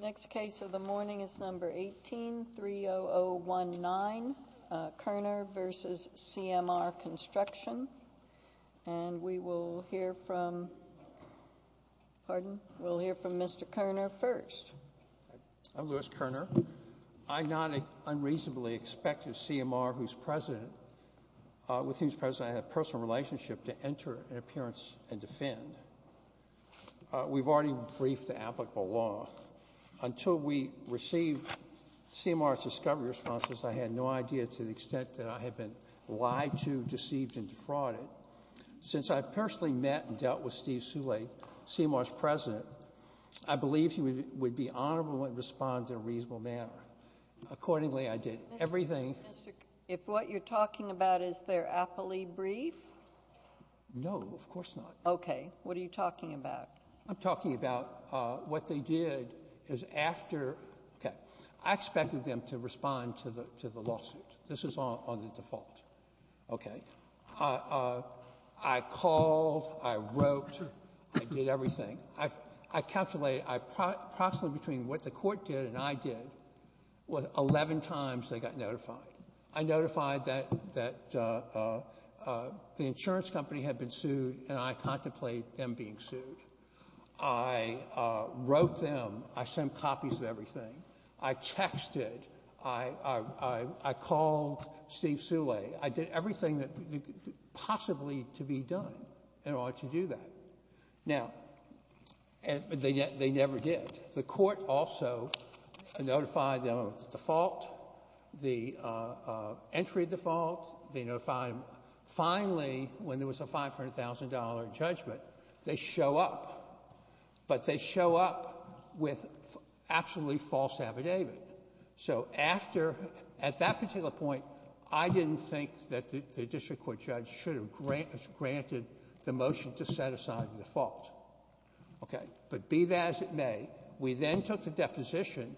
Next case of the morning is number 18-30019, Koerner v. CMR Construction, and we will hear from, pardon, we'll hear from Mr. Koerner first. I'm Louis Koerner. I'm not an unreasonably expected CMR whose president, with whose president I have a personal relationship to enter an appearance and defend. We've already briefed the applicable law. Until we received CMR's discovery responses, I had no idea to the CMR's president, I believe he would be honorable and respond in a reasonable manner. Accordingly, I did everything. Mr. Koerner, if what you're talking about is their appellee brief? No, of course not. Okay. What are you talking about? I'm talking about what they did is after, okay, I expected them to respond to the lawsuit. This is on the default. Okay. I called, I wrote, I did everything. I calculated approximately between what the court did and I did was 11 times they got notified. I notified that the insurance company had been sued and I contemplated them being sued. I wrote them, I sent copies of everything. I texted, I called Steve Soule. I did everything that possibly to be done in order to do that. Now, they never did. The court also notified them of the default, the entry default. They notified them. Finally, when there was a $500,000 judgment, they show up, but they show up with absolutely false affidavit. So after, at that particular point, I didn't think that the district court judge should have granted the motion to set aside the default. Okay. But be that as it may, we then took the deposition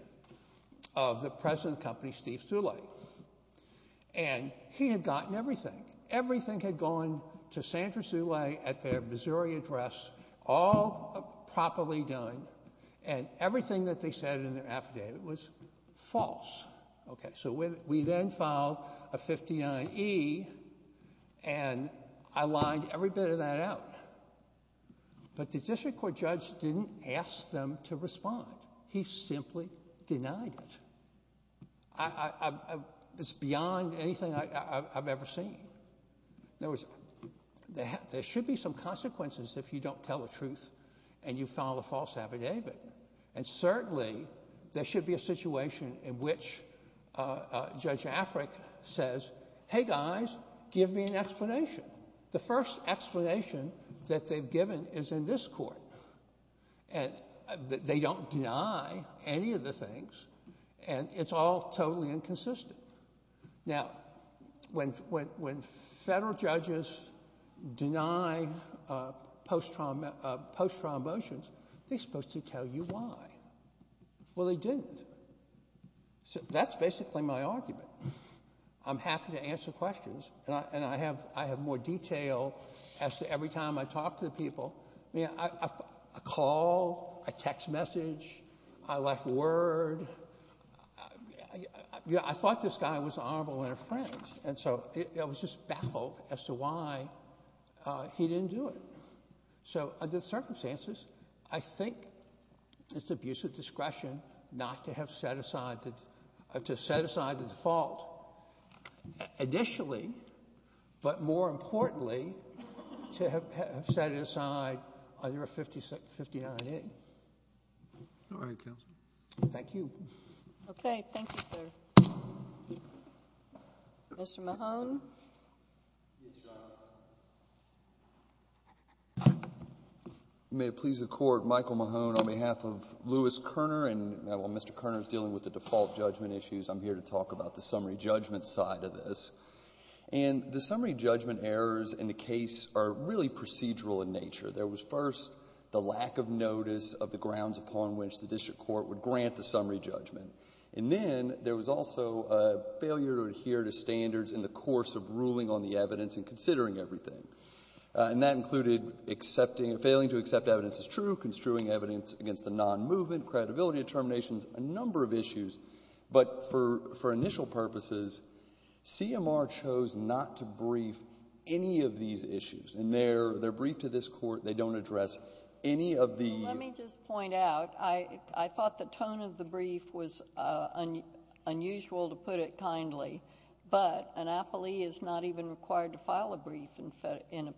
of the president of the company, Steve Soule, and he had gotten everything. Everything had gone to Sandra Durie address, all properly done, and everything that they said in their affidavit was false. Okay. So we then filed a 59E and I lined every bit of that out. But the district court judge didn't ask them to respond. He simply denied it. It's beyond anything I've ever seen. There should be some consequences if you don't tell the truth and you file a false affidavit. And certainly, there should be a situation in which Judge Afric says, hey, guys, give me an explanation. The first explanation that they've given is in this court. And they don't deny any of the things. And it's all totally inconsistent. Now, when federal judges deny post-trial motions, they're supposed to tell you why. Well, they didn't. So that's basically my argument. I'm happy to answer questions. And I have more detail as to every time I call, I text message, I left a word. I thought this guy was honorable and a friend. And so it was just baffled as to why he didn't do it. So under the circumstances, I think it's abuse of discretion not to have set aside the default initially, but more importantly, to have set aside either a 59A. All right, counsel. Thank you. Okay. Thank you, sir. Mr. Mahone. May it please the Court, Michael Mahone on behalf of Louis Kerner. And while Mr. Kerner is dealing with the default judgment issues, I'm here to talk about the summary judgment side of this. And the summary judgment errors in the case are really procedural in nature. There was first the lack of notice of the grounds upon which the district court would grant the summary judgment. And then there was also a failure to adhere to standards in the course of ruling on the evidence and considering everything. And that included failing to accept evidence as true, construing evidence against the non-movement, credibility determinations, a number of issues. But for initial purposes, CMR chose not to brief any of these issues. And they're briefed to this court. They don't address any of the... Let me just point out, I thought the tone of the brief was unusual, to put it kindly. But an appellee is not even required to file a brief in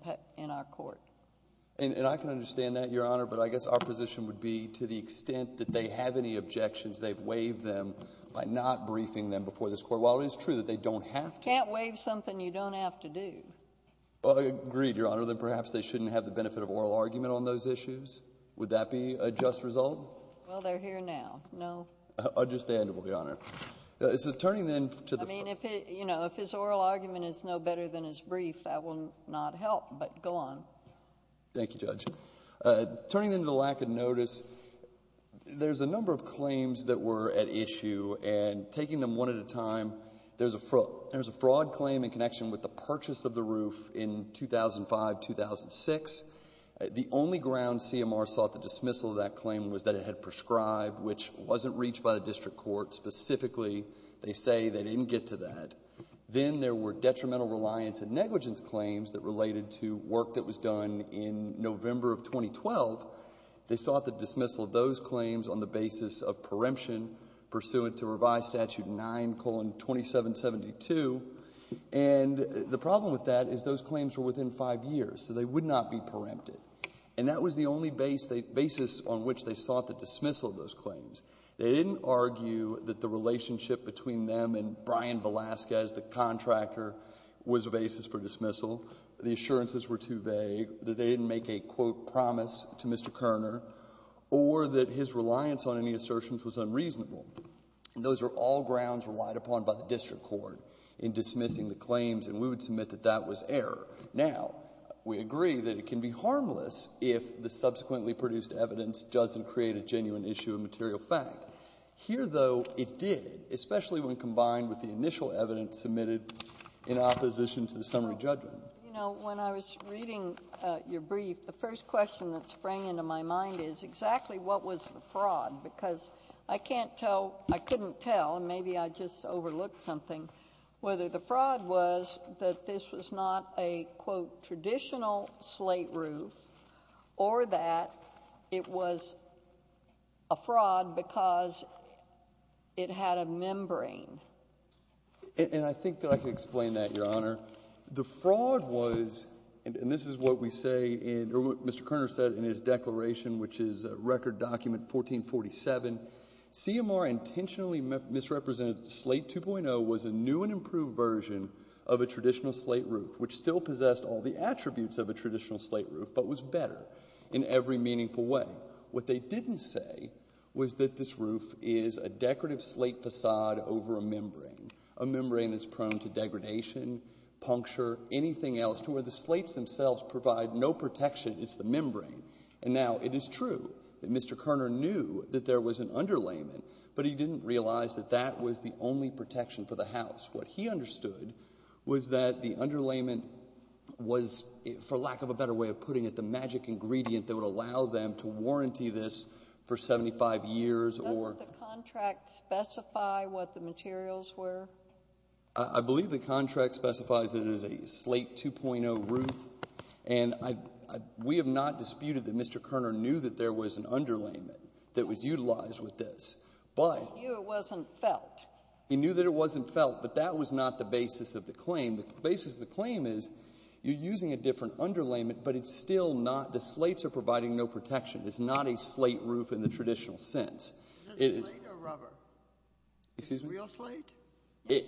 our court. And I can understand that, Your Honor. But I guess our position would be to the extent that they have any objections, they've waived them by not briefing them before this court. While it is true that they don't have to... Can't waive something you don't have to do. Well, I agree, Your Honor, that perhaps they shouldn't have the benefit of oral argument on those issues. Would that be a just result? Well, they're here now. No. Understandable, Your Honor. It's a turning then to the... I mean, if it, you know, if his oral argument is no better than his brief, that will not help. But go on. Thank you, Judge. Turning then to the lack of notice, there's a number of claims that were at issue. And taking them one at a time, there's a fraud claim in connection with the purchase of the roof in 2005-2006. The only ground CMR sought the dismissal of that claim was that it had prescribed, which wasn't reached by the district court. Specifically, they say they didn't get to that. Then there were detrimental reliance and negligence claims that related to work that was done in November of 2012. They sought the dismissal of those claims on the basis of preemption pursuant to Revised Statute 9,2772. And the problem with that is those claims were within five years, so they would not be preempted. And that was the only basis on which they sought the dismissal of those claims. They didn't argue that the relationship between them and Brian Velasquez, the contractor, was a basis for dismissal, the assurances were too vague, that they didn't make a, quote, promise to Mr. Kerner, or that his reliance on any assertions was unreasonable. Those are all grounds relied upon by the district court in dismissing the claims, and we would submit that that was error. Now, we agree that it can be harmless if the subsequently produced evidence doesn't create a genuine issue of material fact. Here, though, it did, especially when combined with the initial evidence submitted in opposition to the summary judgment. JUSTICE GINSBURG You know, when I was reading your brief, the first question that sprang into my mind is exactly what was the fraud? Because I can't tell, I couldn't tell, and maybe I just overlooked something, whether the fraud was that this was not a, quote, traditional slate roof or that it was a fraud because it had a membrane. MR. KERNER And I think that I can explain that, Your Honor. The fraud was, and this is what we say in, or what Mr. Kerner said in his declaration, which is a record document, 1447, CMR intentionally misrepresented slate 2.0 was a new and improved version of a traditional slate which still possessed all the attributes of a traditional slate roof but was better in every meaningful way. What they didn't say was that this roof is a decorative slate facade over a membrane, a membrane that's prone to degradation, puncture, anything else to where the slates themselves provide no protection, it's the membrane. And now it is true that Mr. Kerner knew that there was an underlayment, but he didn't realize that that was the only underlayment, was, for lack of a better way of putting it, the magic ingredient that would allow them to warranty this for 75 years or — JUSTICE SOTOMAYOR Does the contract specify what the materials were? MR. KERNER I believe the contract specifies that it is a slate 2.0 roof, and we have not disputed that Mr. Kerner knew that there was an underlayment that was utilized with this, but — JUSTICE SOTOMAYOR He knew it wasn't felt. MR. KERNER He knew that it wasn't felt, but that was not the basis of the claim. The basis of the claim is you're using a different underlayment, but it's still not — the slates are providing no protection. It's not a slate roof in the traditional sense. It is — JUSTICE SOTOMAYOR Is it a slate or rubber? MR. KERNER Excuse me? JUSTICE SOTOMAYOR Is it a real slate? MR. KERNER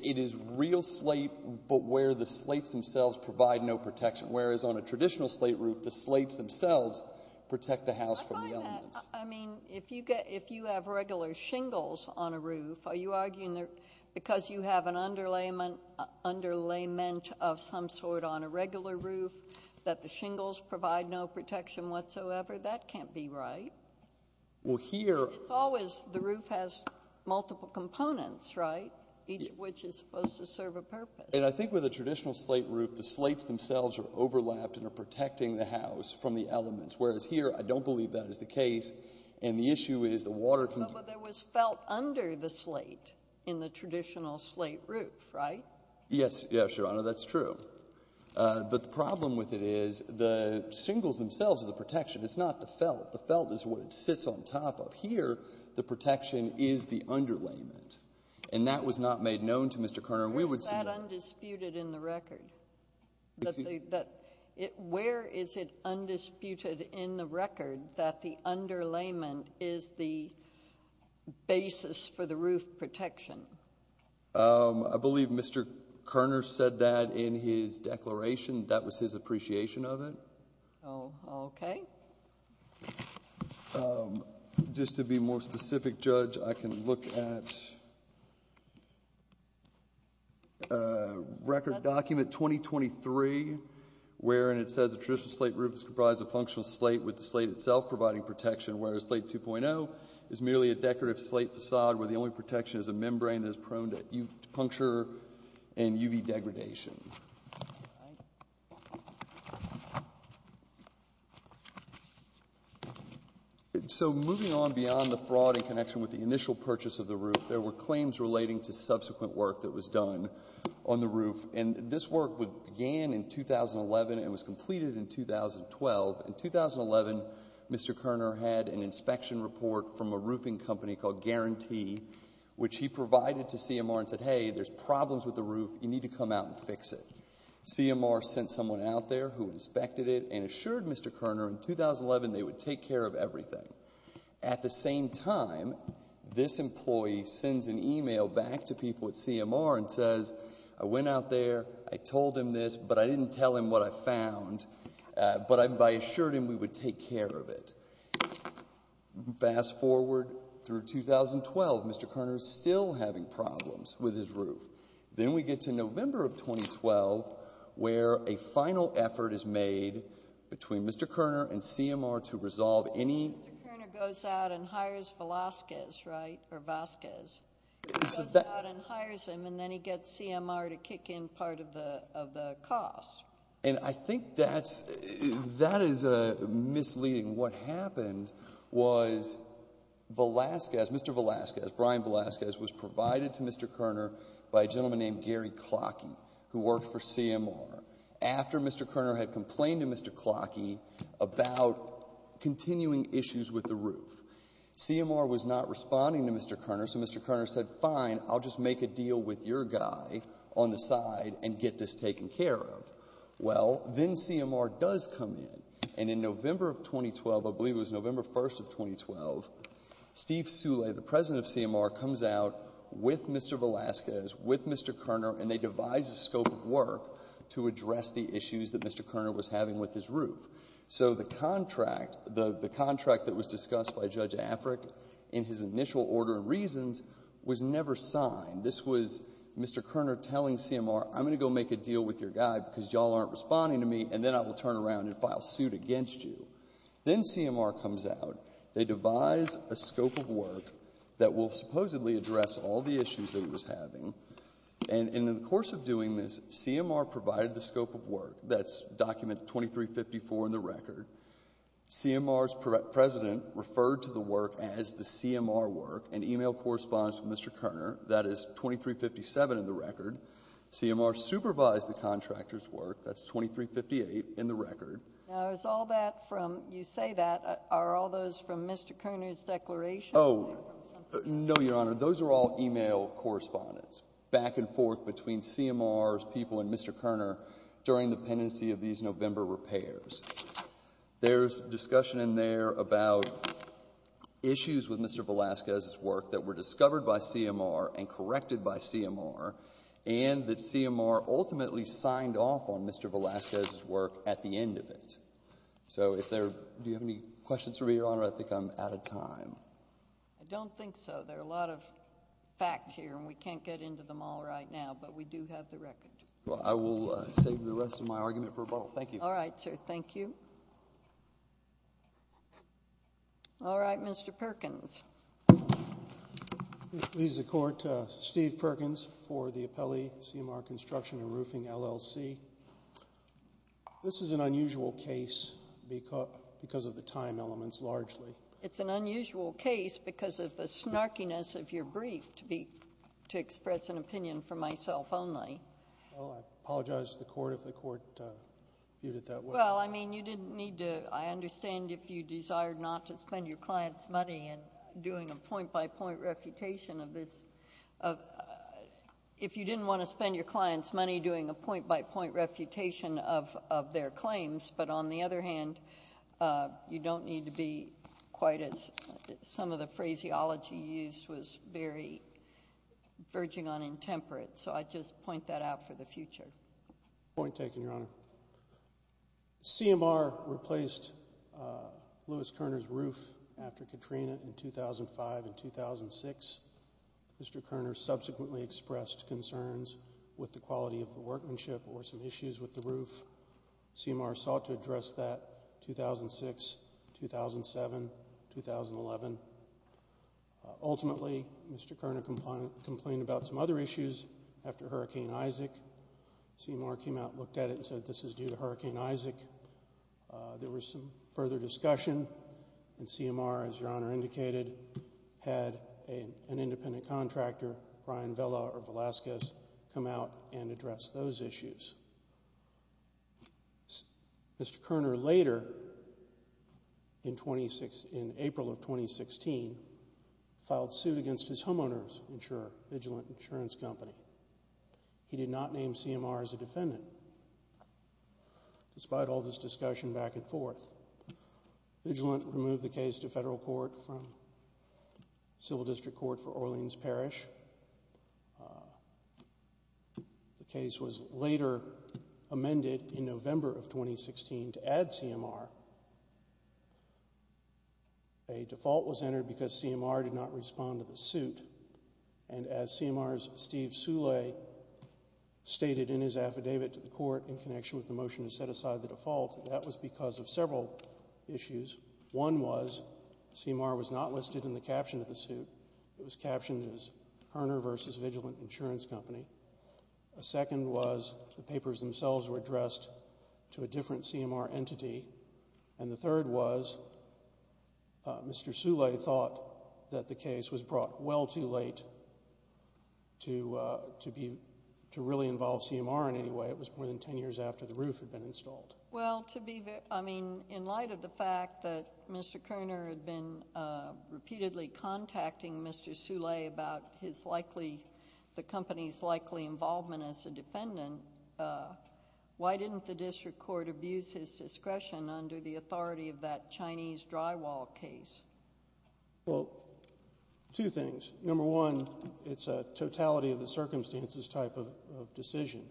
It is real slate, but where the slates themselves provide no protection, whereas on a traditional slate roof, the slates themselves protect the house from the elements. JUSTICE SOTOMAYOR I find that — I mean, if you get — if you have regular shingles on a roof, are you arguing that because you have an underlayment of some sort on a regular roof that the shingles provide no protection whatsoever? That can't be right. MR. KERNER Well, here — JUSTICE SOTOMAYOR It's always — the roof has multiple components, right, each of which is supposed to serve a purpose. MR. KERNER And I think with a traditional slate roof, the slates themselves are overlapped and are protecting the house from the elements, whereas here, I don't believe that is the case, and the issue is the water — in the traditional slate roof, right? MR. KERNER Yes, Your Honor, that's true. But the problem with it is the shingles themselves are the protection. It's not the felt. The felt is what it sits on top of. Here, the protection is the underlayment, and that was not made known to Mr. Kerner. JUSTICE SOTOMAYOR Where is that undisputed in the record? Where is it undisputed in the record that the underlayment is the protection? MR. KERNER I believe Mr. Kerner said that in his declaration. That was his appreciation of it. JUSTICE SOTOMAYOR Oh, okay. MR. KERNER Just to be more specific, Judge, I can look at a record document, 2023, wherein it says the traditional slate roof is comprised of a functional slate with the slate itself providing protection, whereas Slate 2.0 is merely a decorative slate facade where the only protection is a membrane that is prone to puncture and UV degradation. So moving on beyond the fraud in connection with the initial purchase of the roof, there were claims relating to subsequent work that was done on the roof, and this work began in 2011 and was completed in 2012. In 2011, Mr. Kerner had an inspection report from a roofing company called Guarantee, which he provided to CMR and said, hey, there's problems with the roof. You need to come out and fix it. CMR sent someone out there who inspected it and assured Mr. Kerner in 2011 they would take care of everything. At the same time, this employee sends an email back to people at CMR and says, I went out there, I told him this, but I didn't tell him what I found, but I assured him we would take care of it. Fast forward through 2012, Mr. Kerner is still having problems with his roof. Then we get to November of 2012 where a final effort is made between Mr. Kerner and CMR to resolve any... Mr. Kerner goes out and hires Velazquez, right, or Vasquez. He goes out and hires him, and then he gets CMR to kick in part of the cost. I think that is misleading. What happened was Mr. Velazquez, Brian Velazquez, was provided to Mr. Kerner by a gentleman named Gary Clocky, who worked for CMR, after Mr. Kerner had complained to Mr. Clocky about continuing issues with the roof. CMR was not responding to Mr. Kerner, so Mr. Kerner said, fine, I'll just make a deal with your guy on the side and get this taken care of. Well, then CMR does come in, and in November of 2012, I believe it was November 1st of 2012, Steve Soule, the president of CMR, comes out with Mr. Velazquez, with Mr. Kerner, and they devise a scope of work to address the issues that Mr. Kerner was having with his roof. So the contract that was discussed by Judge Afric in his initial order of reasons was never signed. This was Mr. Kerner telling CMR, I'm going to go make a deal with your guy because y'all aren't responding to me, and then I will turn around and file suit against you. Then CMR comes out, they devise a scope of work that will supposedly address all the issues that he was having, and in the course of doing this, CMR provided the scope of work. That's document 2354 in the record. CMR's president referred to the work as the CMR work, and email correspondence with Mr. Kerner. That's 2357 in the record. CMR supervised the contractor's work. That's 2358 in the record. Now, is all that from, you say that, are all those from Mr. Kerner's declaration? Oh, no, Your Honor. Those are all email correspondence, back and forth between CMR's people and Mr. Kerner during the pendency of these November repairs. There's discussion in there about issues with Mr. Velasquez's work that were discovered by CMR and corrected by CMR, and that CMR ultimately signed off on Mr. Velasquez's work at the end of it. So, if there, do you have any questions for me, Your Honor? I think I'm out of time. I don't think so. There are a lot of facts here, and we can't get into them all right now, but we do have the record. Well, I will save the rest of my argument for a bottle. Thank you. All right, sir. Thank you. All right, Mr. Perkins. Leads the Court, Steve Perkins for the Appellee CMR Construction and Roofing, LLC. This is an unusual case because of the time elements, largely. It's an unusual case because of the snarkiness of your brief, to express an opinion for myself only. Well, I apologize to the Court if the Court viewed it that way. Well, I mean, you didn't need to... I understand if you desired not to spend your client's money in doing a point-by-point refutation of this... if you didn't want to spend your client's money doing a point-by-point refutation of their claims, but on the other hand, you don't need to be quite as... some of the phraseology used was very verging on intemperate, so I just point that out for the future. Point taken, Your Honor. CMR replaced Lewis Kerner's roof after Katrina in 2005 and 2006. Mr. Kerner subsequently expressed concerns with the quality of the workmanship or some issues with the roof. CMR sought to address that 2006, 2007, 2011. Ultimately, Mr. Kerner complained about some other issues after Hurricane Isaac. CMR came out, looked at it, and said this is due to Hurricane Isaac. There was some further discussion, and CMR, as Your Honor indicated, had an independent contractor, Brian Vella of Velazquez, come out and address those issues. Mr. Kerner later, in April of 2016, filed suit against his homeowner's insurer, Vigilant Insurance Company. He did not name CMR as a defendant. Despite all this discussion back and forth, Vigilant removed the case to federal court from civil district court for Orleans Parish. The case was later amended in November of 2016 to add CMR. A default was entered because CMR did not respond to the suit, and as CMR's Steve Soule stated in his affidavit to the court in connection with the motion to set aside the default, that was because of several issues. One was CMR was not listed in the caption of the suit. It was captioned as Kerner v. Vigilant Insurance Company. A second was the papers themselves were addressed to a different CMR entity, and the third was Mr. Soule thought that the case was brought well too late to really involve CMR in any way. It was more than ten years after the roof had installed. Well, in light of the fact that Mr. Kerner had been repeatedly contacting Mr. Soule about the company's likely involvement as a defendant, why didn't the district court abuse his discretion under the authority of that Chinese drywall case? Well, two things. Number one, it's a totality of the circumstances type of decision.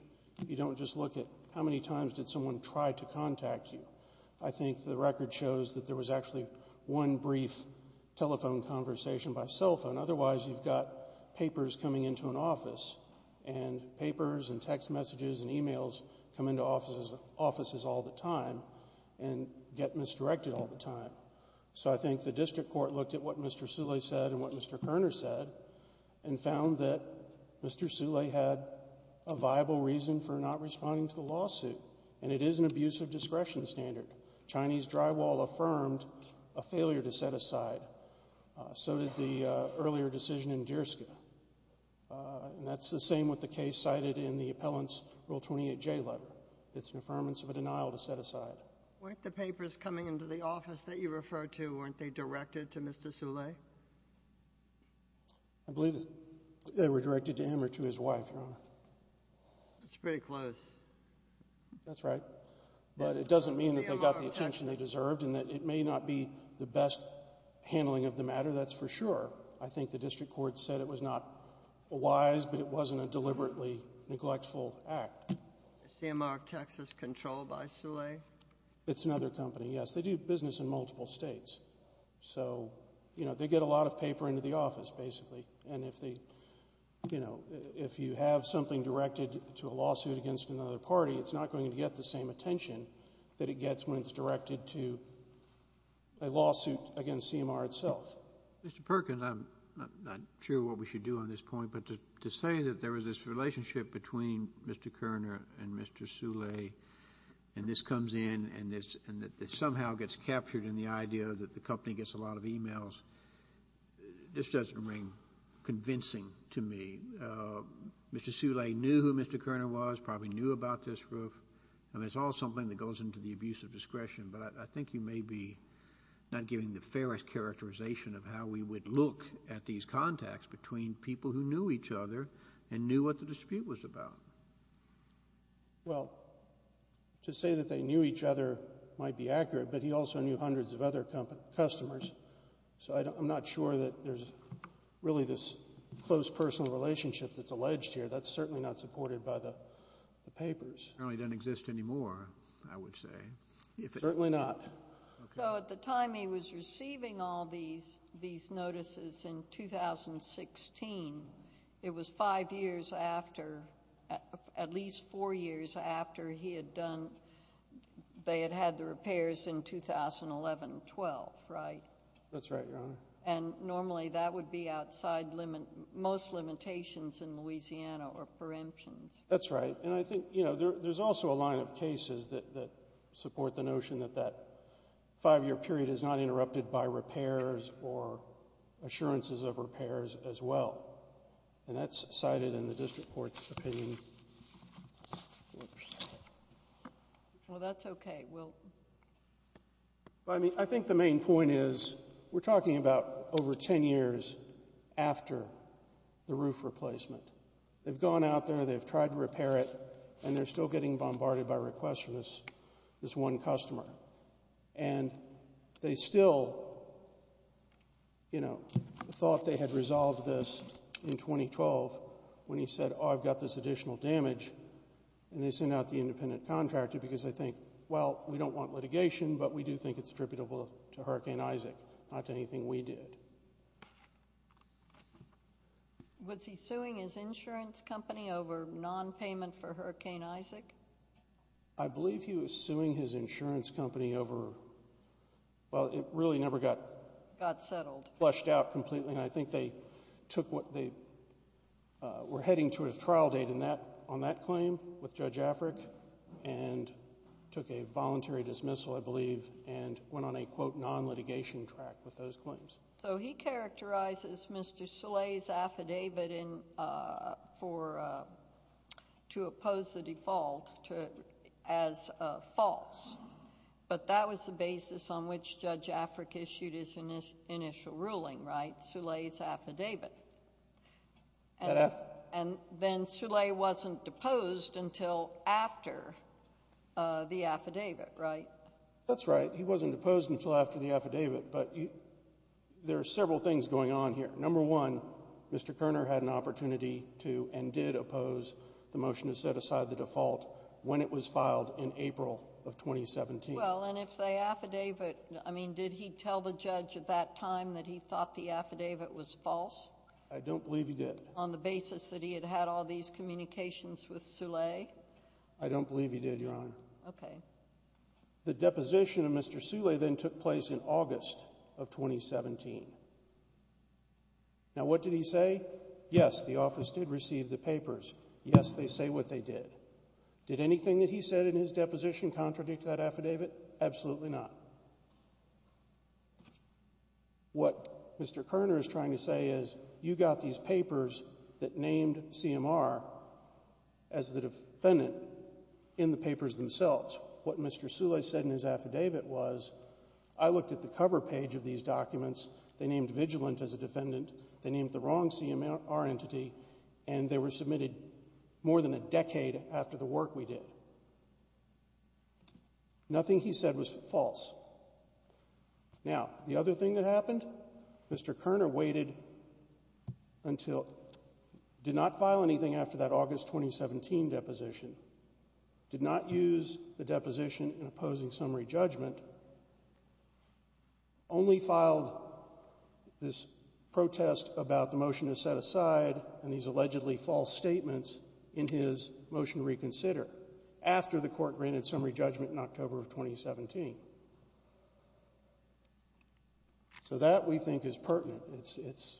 You don't just look at how many times did someone try to contact you. I think the record shows that there was actually one brief telephone conversation by cell phone. Otherwise, you've got papers coming into an office, and papers and text messages and e-mails come into offices all the time and get misdirected all the time. So I think the district court looked at what Mr. Soule said and what Mr. Kerner said and found that Mr. Soule had a viable reason for not responding to the lawsuit, and it is an abuse of discretion standard. Chinese drywall affirmed a failure to set aside. So did the earlier decision in Deerska, and that's the same with the case cited in the appellant's Rule 28J letter. It's an affirmance of a denial to set aside. Weren't the papers coming into the office that you referred to, weren't they directed to Mr. Soule? I believe that they were directed to him or to his wife, Your Honor. That's pretty close. That's right. But it doesn't mean that they got the attention they deserved and that it may not be the best handling of the matter, that's for sure. I think the district court said it was not wise, but it wasn't a deliberately neglectful act. Is CMR Texas controlled by Soule? It's another company, yes. They do business in multiple states. So, you know, they get a lot of paper into the office, basically, and if they, you know, if you have something directed to a lawsuit against another party, it's not going to get the same attention that it gets when it's directed to a lawsuit against CMR itself. Mr. Perkins, I'm not sure what we should do on this point, but to say that there was this relationship between Mr. Koerner and Mr. Soule and this comes in and this somehow gets captured in the idea that the company gets a lot of emails, this doesn't ring convincing to me. Mr. Soule knew who Mr. Koerner was, probably knew about this roof. I mean, it's all something that goes into the abuse of discretion, but I think you may be not giving the fairest characterization of how we would look at these contacts between people who knew each other and knew what the dispute was about. Well, to say that they knew each other might be accurate, but he also knew hundreds of other customers, so I'm not sure that there's really this close personal relationship that's alleged here. That's certainly not supported by the papers. It certainly doesn't exist anymore, I would say. Certainly not. So at the time he was receiving all these notices in 2016, it was five years after, at least four years after he had done, they had had the repairs in 2011-12, right? That's right, Your Honor. And normally that would be outside most limitations in Louisiana or preemptions. That's right, and I think there's also a line of cases that support the notion that that five-year period is not interrupted by repairs or assurances of repairs as well, and that's cited in the district court's opinion. Well, that's okay. I think the main point is we're talking about over 10 years after the roof replacement. They've gone out there, they've tried to repair it, and they're still getting bombarded by requests from this one customer. And they still, you know, thought they had resolved this in 2012 when he said, oh, I've got this additional damage, and they sent out the independent contractor because they think, well, we don't want litigation, but we do think it's attributable to Hurricane Isaac, not to anything we did. Was he suing his insurance company over non-payment for Hurricane Isaac? I believe he was suing his insurance company over, well, it really never got flushed out completely, and I think they took what they were heading to a trial date on that claim with Judge Afric, and took a voluntary dismissal, I believe, and went on a, quote, non-litigation track with those claims. So he characterizes Mr. Soule's affidavit to oppose the default as false, but that was the basis on which Judge Afric issued his initial ruling, right? Soule's affidavit. And then Soule wasn't deposed until after the affidavit, right? That's right. He wasn't deposed until after the affidavit, but there are several things going on here. Number one, Mr. Kerner had an opportunity to, and did, oppose the motion to set aside the default when it was filed in April of 2017. Well, and if the affidavit, I mean, did he tell the judge at that time that he thought the affidavit was false? I don't believe he did. On the basis that he had had all these communications with Soule? I don't believe he did, Your Honor. Okay. The deposition of Mr. Soule then took place in August of 2017. Now, what did he say? Yes, the office did receive the papers. Yes, they say what they did. Did anything that he said in his deposition contradict that affidavit? Absolutely not. What Mr. Kerner is trying to say is, you got these papers that named CMR as the defendant in the papers themselves. What Mr. Soule said in his affidavit was, I looked at the cover page of these documents, they named vigilant as a defendant, they named the wrong CMR entity, and they were submitted more than a decade after the work we did. Nothing he said was false. Now, the other thing that happened? Mr. Kerner waited until, did not file anything after that August 2017 deposition, did not use the deposition in opposing summary judgment, only filed this protest about the motion is set aside and these allegedly false statements in his motion reconsider after the court granted summary judgment in October of 2017. So, that we think is pertinent. It's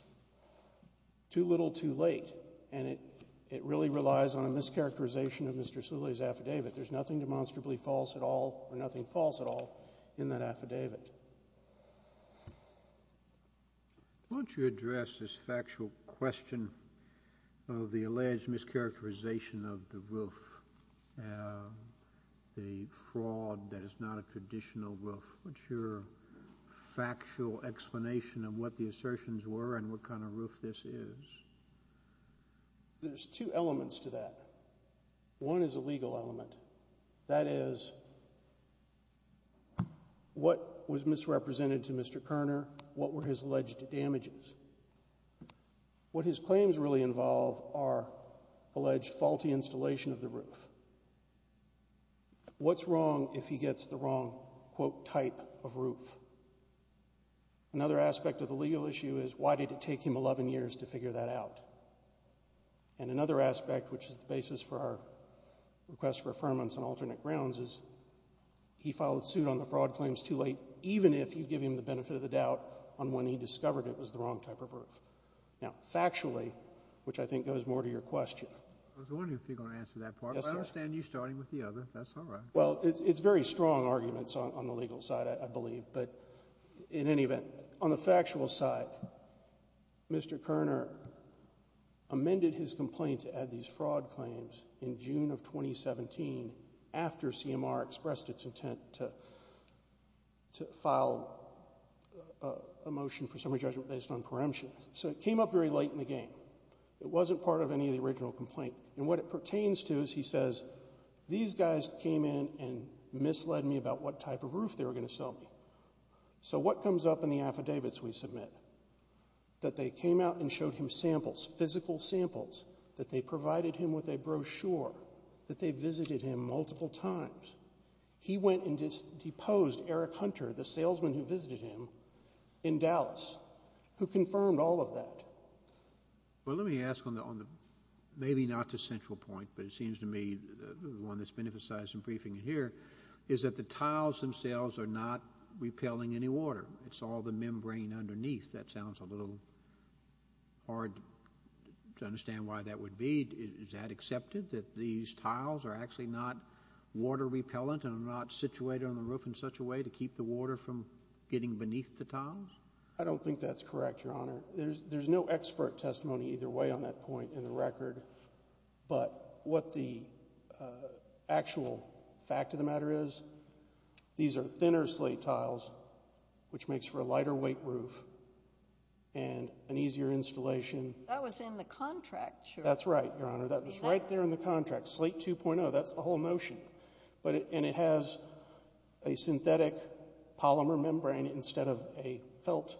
too little too late, and it really relies on a mischaracterization of Mr. Soule's affidavit. There's nothing demonstrably false at all, or nothing false at all in that affidavit. Why don't you address this factual question of the alleged mischaracterization of the roof, the fraud that is not a credentialed fraud, what's your factual explanation of what the assertions were, and what kind of roof this is? There's two elements to that. One is a legal element. That is, what was misrepresented to Mr. Kerner? What were his alleged damages? What's wrong if he gets the wrong quote type of roof? Another aspect of the legal issue is, why did it take him 11 years to figure that out? And another aspect, which is the basis for our request for affirmance on alternate grounds, is he filed suit on the fraud claims too late, even if you give him the benefit of the doubt on when he discovered it was the wrong type of roof. Now, factually, which I think goes more to your question. I was wondering if you're going to answer that part. I understand you starting with the other. That's all right. Well, it's very strong arguments on the legal side, I believe. But in any event, on the factual side, Mr. Kerner amended his complaint to add these fraud claims in June of 2017 after CMR expressed its intent to file a motion for summary judgment based on preemption. So it came up very late in the game. It wasn't part of any of the original complaint. And what it pertains to is he says, these guys came in and misled me about what type of roof they were going to sell me. So what comes up in the affidavits we submit? That they came out and showed him samples, physical samples, that they provided him with a brochure, that they visited him multiple times. He went and deposed Eric Hunter, the salesman who visited him in Dallas, who confirmed all of that. Well, let me ask on the maybe not the central point, but it seems to me the one that's been emphasized in briefing here is that the tiles themselves are not repelling any water. It's all the membrane underneath. That sounds a little hard to understand why that would be. Is that accepted, that these tiles are actually not water repellent and are not situated on the roof in such a way to keep the water from getting beneath the tiles? I don't think that's correct, Your Honor. There's no expert testimony either way on that point in the record. But what the actual fact of the matter is, these are thinner slate tiles, which makes for a lighter weight roof and an easier installation. That was in the contract, sure. That's right, Your Honor. That was right there in the contract. Slate 2.0, that's the whole notion. And it has a synthetic polymer membrane instead of a felt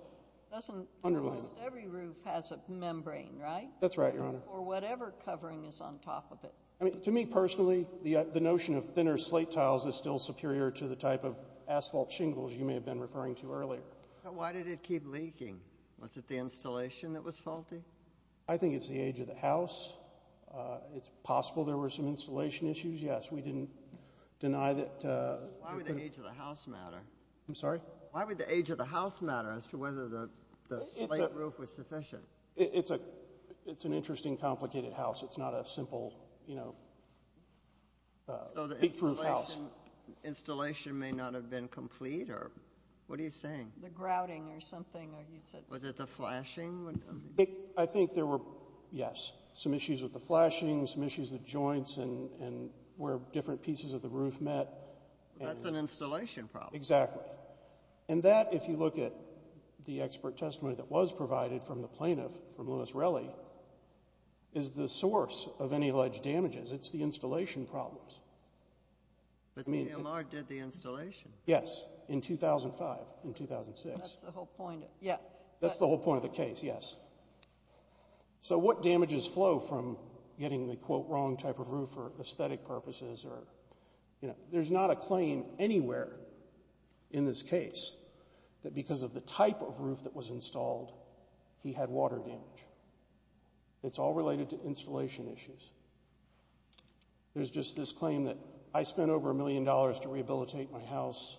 underlayment. Almost every roof has a membrane, right? That's right, Your Honor. Or whatever covering is on top of it. I mean, to me personally, the notion of thinner slate tiles is still superior to the type of asphalt shingles you may have been referring to earlier. Why did it keep leaking? Was it the installation that was faulty? I think it's the age of the house. It's possible there were some installation issues. Yes, we didn't deny that. Why would the age of the house matter? I'm sorry? Why would the age of the house matter as to whether the slate roof was sufficient? It's an interesting, complicated house. It's not a simple, you know, big roof house. Installation may not have been complete? What are you saying? The grouting or something, or you said? Was it the flashing? I think there were, yes, some issues with the flashing, some issues with joints and where different pieces of the roof met. That's an installation problem. Exactly. And that, if you look at the expert testimony that was provided from the plaintiff, from Louis Reli, is the source of any alleged damages. It's the installation problems. But CMR did the installation. Yes, in 2005, in 2006. That's the whole point. Yeah. That's the whole point of the case, yes. So what damages flow from getting the, quote, wrong type of roof for aesthetic purposes or, you know? There's not a claim anywhere in this case that because of the type of roof that was installed, he had water damage. It's all related to installation issues. There's just this claim that I spent over a million dollars to rehabilitate my house.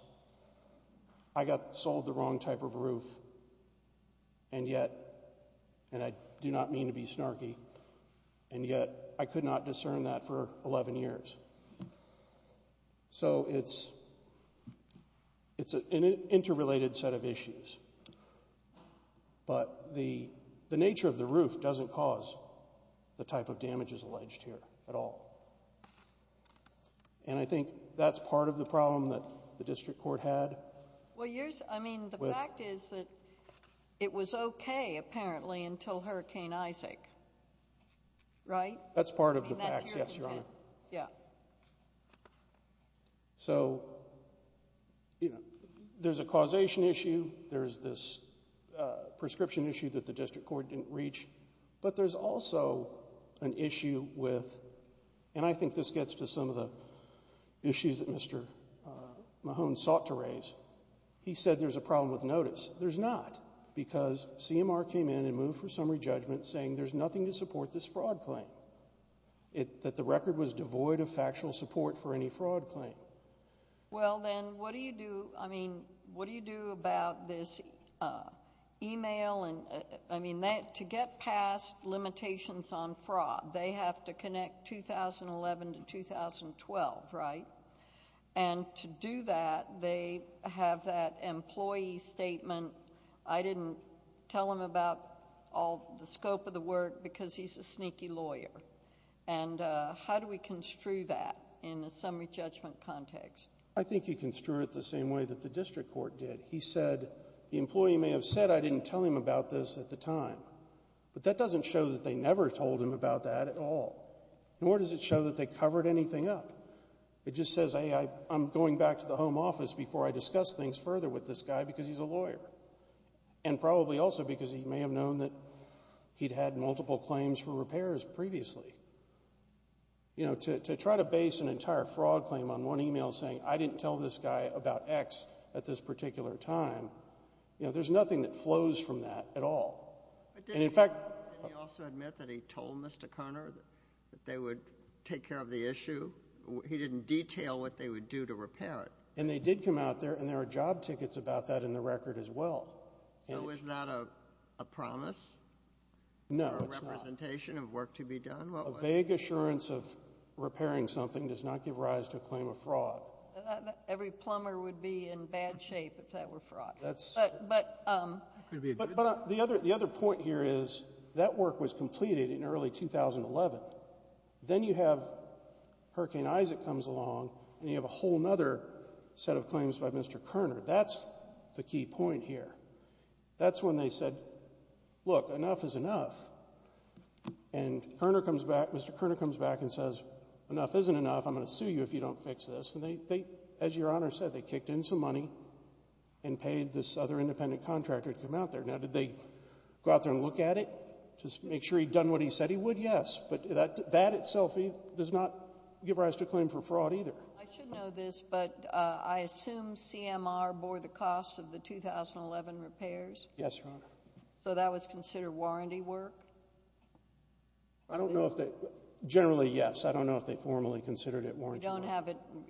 I got sold the wrong type of roof. And yet, and I do not mean to be snarky. And yet, I could not discern that for 11 years. So it's an interrelated set of issues. But the nature of the roof doesn't cause the type of damages alleged here at all. And I think that's part of the problem that the district court had. Well, I mean, the fact is that it was okay, apparently, until Hurricane Isaac, right? That's part of the facts, yes, Your Honor. And that's your intent, yeah. So, you know, there's a causation issue. There's this prescription issue that the district court didn't reach. But there's also an issue with, and I think this gets to some of the issues that Mr. Mahone sought to raise. He said there's a problem with notice. There's not, because CMR came in and moved for summary judgment, saying there's nothing to support this fraud claim. It, that the record was devoid of factual support for any fraud claim. Well, then, what do you do, I mean, what do you do about this email and, I mean, to get past limitations on fraud, they have to connect 2011 to 2012, right? And to do that, they have that employee statement. I didn't tell him about all the scope of the work because he's a sneaky lawyer. And how do we construe that in a summary judgment context? I think you construe it the same way that the district court did. He said, the employee may have said, I didn't tell him about this at the time. But that doesn't show that they never told him about that at all. Nor does it show that they covered anything up. It just says, hey, I'm going back to the home office before I discuss things further with this guy because he's a lawyer. And probably also because he may have known that he'd had multiple claims for repairs previously. You know, to try to base an entire fraud claim on one email saying, I didn't tell this guy about X at this particular time, you know, there's nothing that flows from that at all. And, in fact, But didn't he also admit that he told Mr. Conner that they would take care of the issue? He didn't detail what they would do to repair it. And they did come out there, and there are job tickets about that in the record as well. So is that a promise? No, it's not. A representation of work to be done? A vague assurance of repairing something does not give rise to a claim of fraud. Every plumber would be in bad shape if that were fraud. That's true. But the other point here is that work was completed in early 2011. Then you have Hurricane Isaac comes along, and you have a whole other set of claims by Mr. Conner. That's the key point here. That's when they said, look, enough is enough. And Mr. Conner comes back and says, enough isn't enough. I'm going to sue you if you don't fix this. And they, as Your Honor said, they kicked in some money and paid this other independent contractor to come out there. Now, did they go out there and look at it to make sure he'd done what he said he would? Yes. But that itself does not give rise to a claim for fraud either. I should know this, but I assume CMR bore the cost of the 2011 repairs? Yes, Your Honor. So that was considered warranty work? I don't know if they—generally, yes. I don't know if they formally considered it warranty work.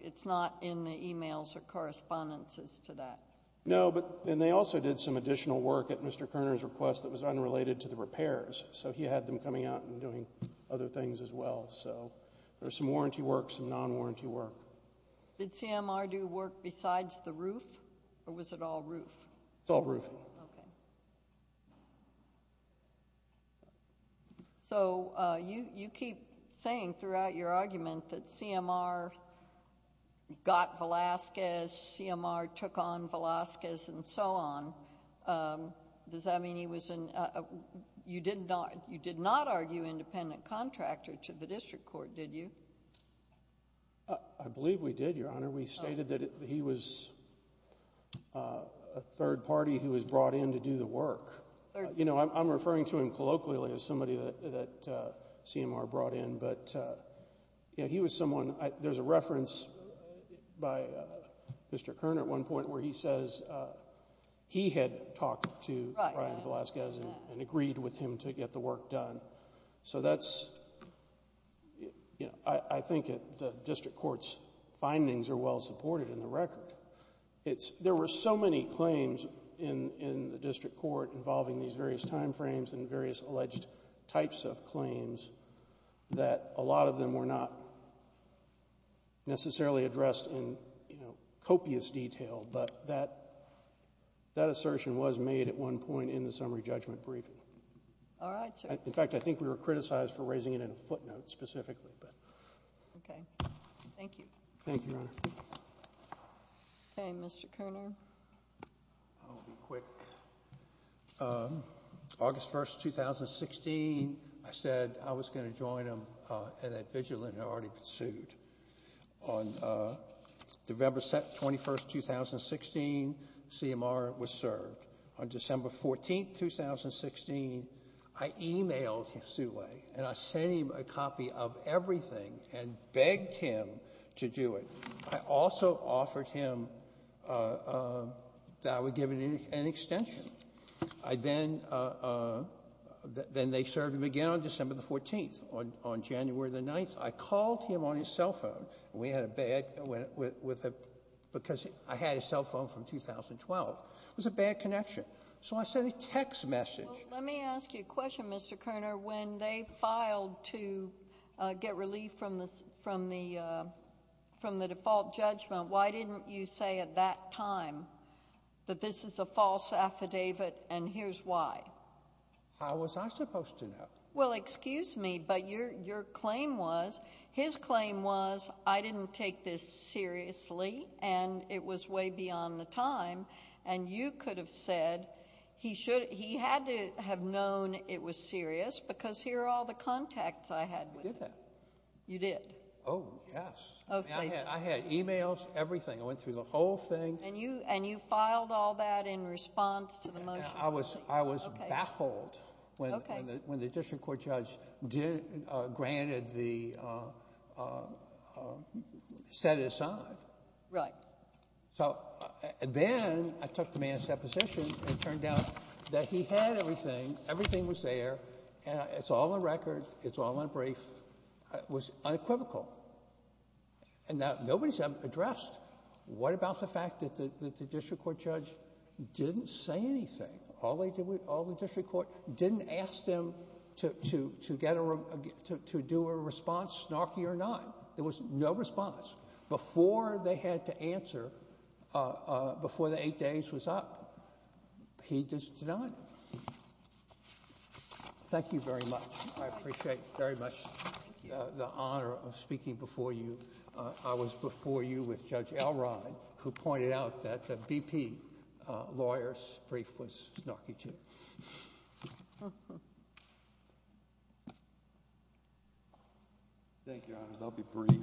It's not in the emails or correspondences to that? No, and they also did some additional work at Mr. Conner's request that was unrelated to the repairs. So he had them coming out and doing other things as well. So there's some warranty work, some non-warranty work. Did CMR do work besides the roof, or was it all roof? It's all roof. Okay. So you keep saying throughout your argument that CMR got Velazquez, CMR took on Velazquez, and so on. Does that mean he was—you did not argue independent contractor to the district court, did you? I believe we did, Your Honor. We stated that he was a third party who was brought in to do the work. You know, I'm referring to him colloquially as somebody that CMR brought in. But he was someone—there's a reference by Mr. Conner at one point where he says he had talked to Brian Velazquez and agreed with him to get the work done. So that's, you know, I think the district court's findings are well supported in the record. There were so many claims in the district court involving these various timeframes and various alleged types of claims that a lot of them were not necessarily addressed in, you know, copious detail. But that assertion was made at one point in the summary judgment briefing. All right. In fact, I think we were criticized for raising it in a footnote specifically. Okay. Thank you. Thank you, Your Honor. Okay. Mr. Conner. I'll be quick. August 1, 2016, I said I was going to join him in a vigilante already pursued. On November 21, 2016, CMR was served. On December 14, 2016, I emailed Sule and I sent him a copy of everything and begged him to do it. I also offered him that I would give him an extension. I then—then they served him again on December the 14th. On January the 9th, I called him on his cell phone. We had a bad—because I had his cell phone from 2012. It was a bad connection. So I sent a text message. Well, let me ask you a question, Mr. Conner. When they filed to get relief from the default judgment, why didn't you say at that time that this is a false affidavit and here's why? How was I supposed to know? Well, excuse me, but your claim was—his claim was I didn't take this seriously and it was way beyond the time and you could have said he should—he had to have known it was serious because here are all the contacts I had. I did that. You did? Oh, yes. I had emails, everything. I went through the whole thing. And you filed all that in response to the motion? I was baffled when the district court judge granted the—set it aside. Right. So then I took the man's deposition. It turned out that he had everything. Everything was there. And it's all on record. It's all on brief. It was unequivocal. And now nobody's addressed. What about the fact that the district court judge didn't say anything? All they did was—all the district court didn't ask them to get a—to do a response, snarky or not. There was no response. Before they had to answer, before the eight days was up, he did not. Thank you very much. I appreciate very much the honor of speaking before you. I was before you with Judge Elrod who pointed out that the BP lawyer's brief was snarky too. Thank you, Your Honors. I'll be brief.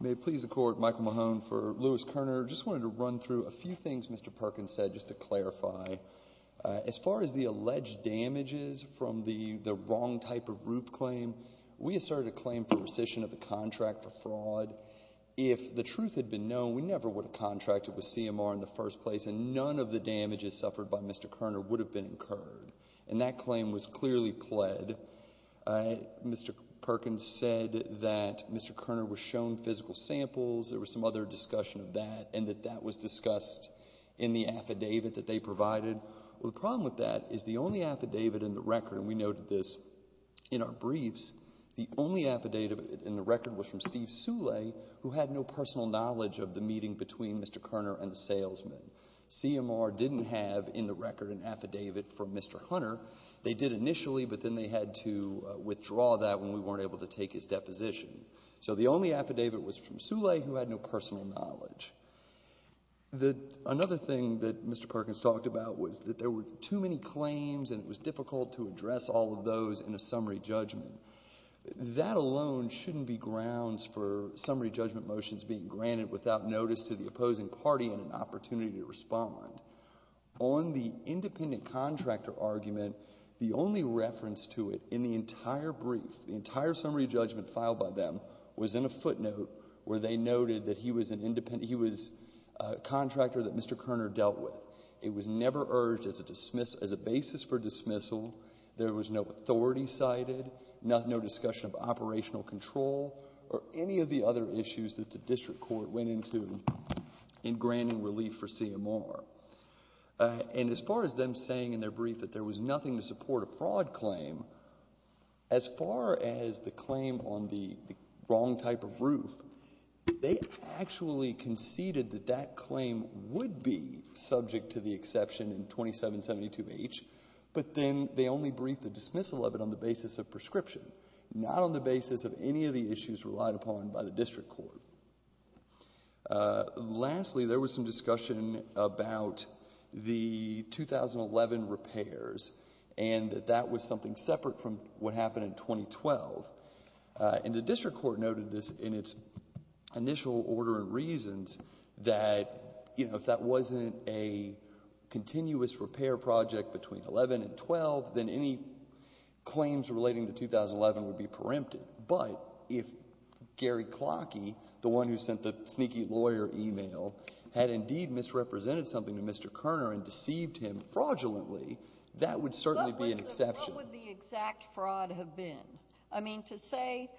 May it please the Court, Michael Mahone for Lewis-Kerner. Just wanted to run through a few things Mr. Perkins said just to clarify. As far as the alleged damages from the wrong type of roof claim, we asserted a claim for rescission of the contract for fraud. If the truth had been known, we never would have contracted with CMR in the first place and none of the damages suffered by Mr. Kerner would have been incurred. And that claim was clearly pled. I—Mr. Perkins said that Mr. Kerner was shown physical samples, there was some other discussion of that, and that that was discussed in the affidavit that they provided. Well, the problem with that is the only affidavit in the record, and we noted this in our briefs, the only affidavit in the record was from Steve Soule who had no personal knowledge of the meeting between Mr. Kerner and the salesman. CMR didn't have in the record an affidavit from Mr. Hunter. They did initially, but then they had to withdraw that when we weren't able to take his deposition. So the only affidavit was from Soule who had no personal knowledge. Another thing that Mr. Perkins talked about was that there were too many claims and it was difficult to address all of those in a summary judgment. That alone shouldn't be grounds for summary judgment motions being granted without notice to the opposing party and an opportunity to respond. On the independent contractor argument, the only reference to it in the entire brief, the entire summary judgment filed by them was in a footnote where they noted that he was a contractor that Mr. Kerner dealt with. It was never urged as a basis for dismissal. There was no authority cited, no discussion of operational control or any of the other issues that the district court went into in granting relief for CMR. And as far as them saying in their brief that there was nothing to support a fraud claim, as far as the claim on the wrong type of roof, they actually conceded that that claim would be subject to the exception in 2772H, but then they only briefed the dismissal of it on the basis of prescription, not on the basis of any of the issues relied upon by the district court. Lastly, there was some discussion about the 2011 repairs and that that was something separate from what happened in 2012. And the district court noted this in its initial order and reasons that if that wasn't a continuous repair project between 11 and 12, then any claims relating to 2011 would be preempted. But if Gary Clockie, the one who sent the sneaky lawyer email, had indeed misrepresented something to Mr. Kerner and deceived him fraudulently, that would certainly be an exception. What would the exact fraud have been? I mean, to say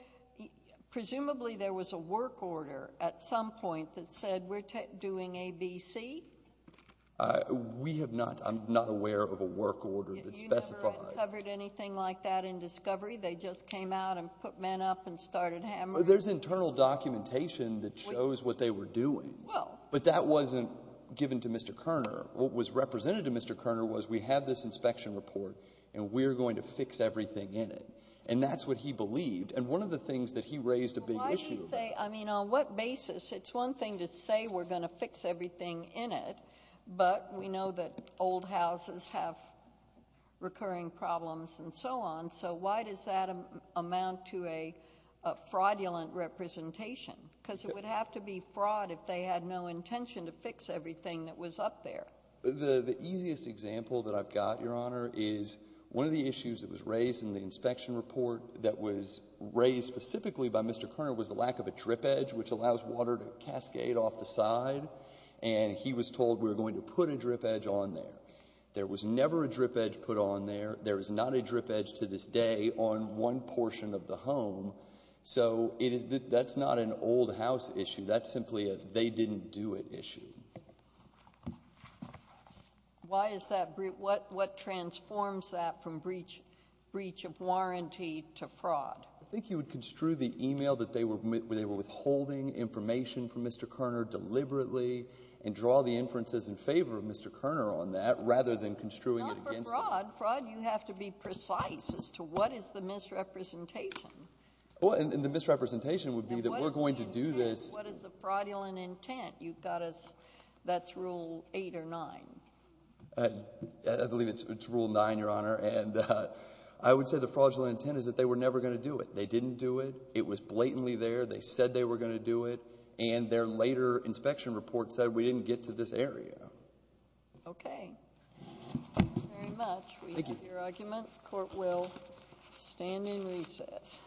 presumably there was a work order at some point that said we're doing ABC? We have not. I'm not aware of a work order that specified. You never uncovered anything like that in discovery? They just came out and put men up and started hammering? There's internal documentation that shows what they were doing. But that wasn't given to Mr. Kerner. What was represented to Mr. Kerner was we have this inspection report and we're going to fix everything in it. And that's what he believed. And one of the things that he raised a big issue. Why do you say? I mean, on what basis? It's one thing to say we're going to fix everything in it, but we know that old houses have recurring problems and so on. So why does that amount to a fraudulent representation? Because it would have to be fraud if they had no intention to fix everything that was up there. The easiest example that I've got, Your Honor, is one of the issues that was raised in the inspection report that was raised specifically by Mr. Kerner was the lack of a drip edge, which allows water to cascade off the side. And he was told we're going to put a drip edge on there. There was never a drip edge put on there. There is not a drip edge to this day on one portion of the home. So that's not an old house issue. That's simply a they didn't do it issue. Why is that? What transforms that from breach of warranty to fraud? I think you would construe the email that they were withholding information from Mr. Kerner deliberately and draw the inferences in favor of Mr. Kerner on that rather than construing it against him. Not for fraud. You have to be precise as to what is the misrepresentation. Well, and the misrepresentation would be that we're going to do this. What is the fraudulent intent? You've got us. That's rule eight or nine. I believe it's rule nine, Your Honor. And I would say the fraudulent intent is that they were never going to do it. They didn't do it. It was blatantly there. They said they were going to do it. And their later inspection report said we didn't get to this area. Okay, thank you very much. We have your argument. Court will stand in recess.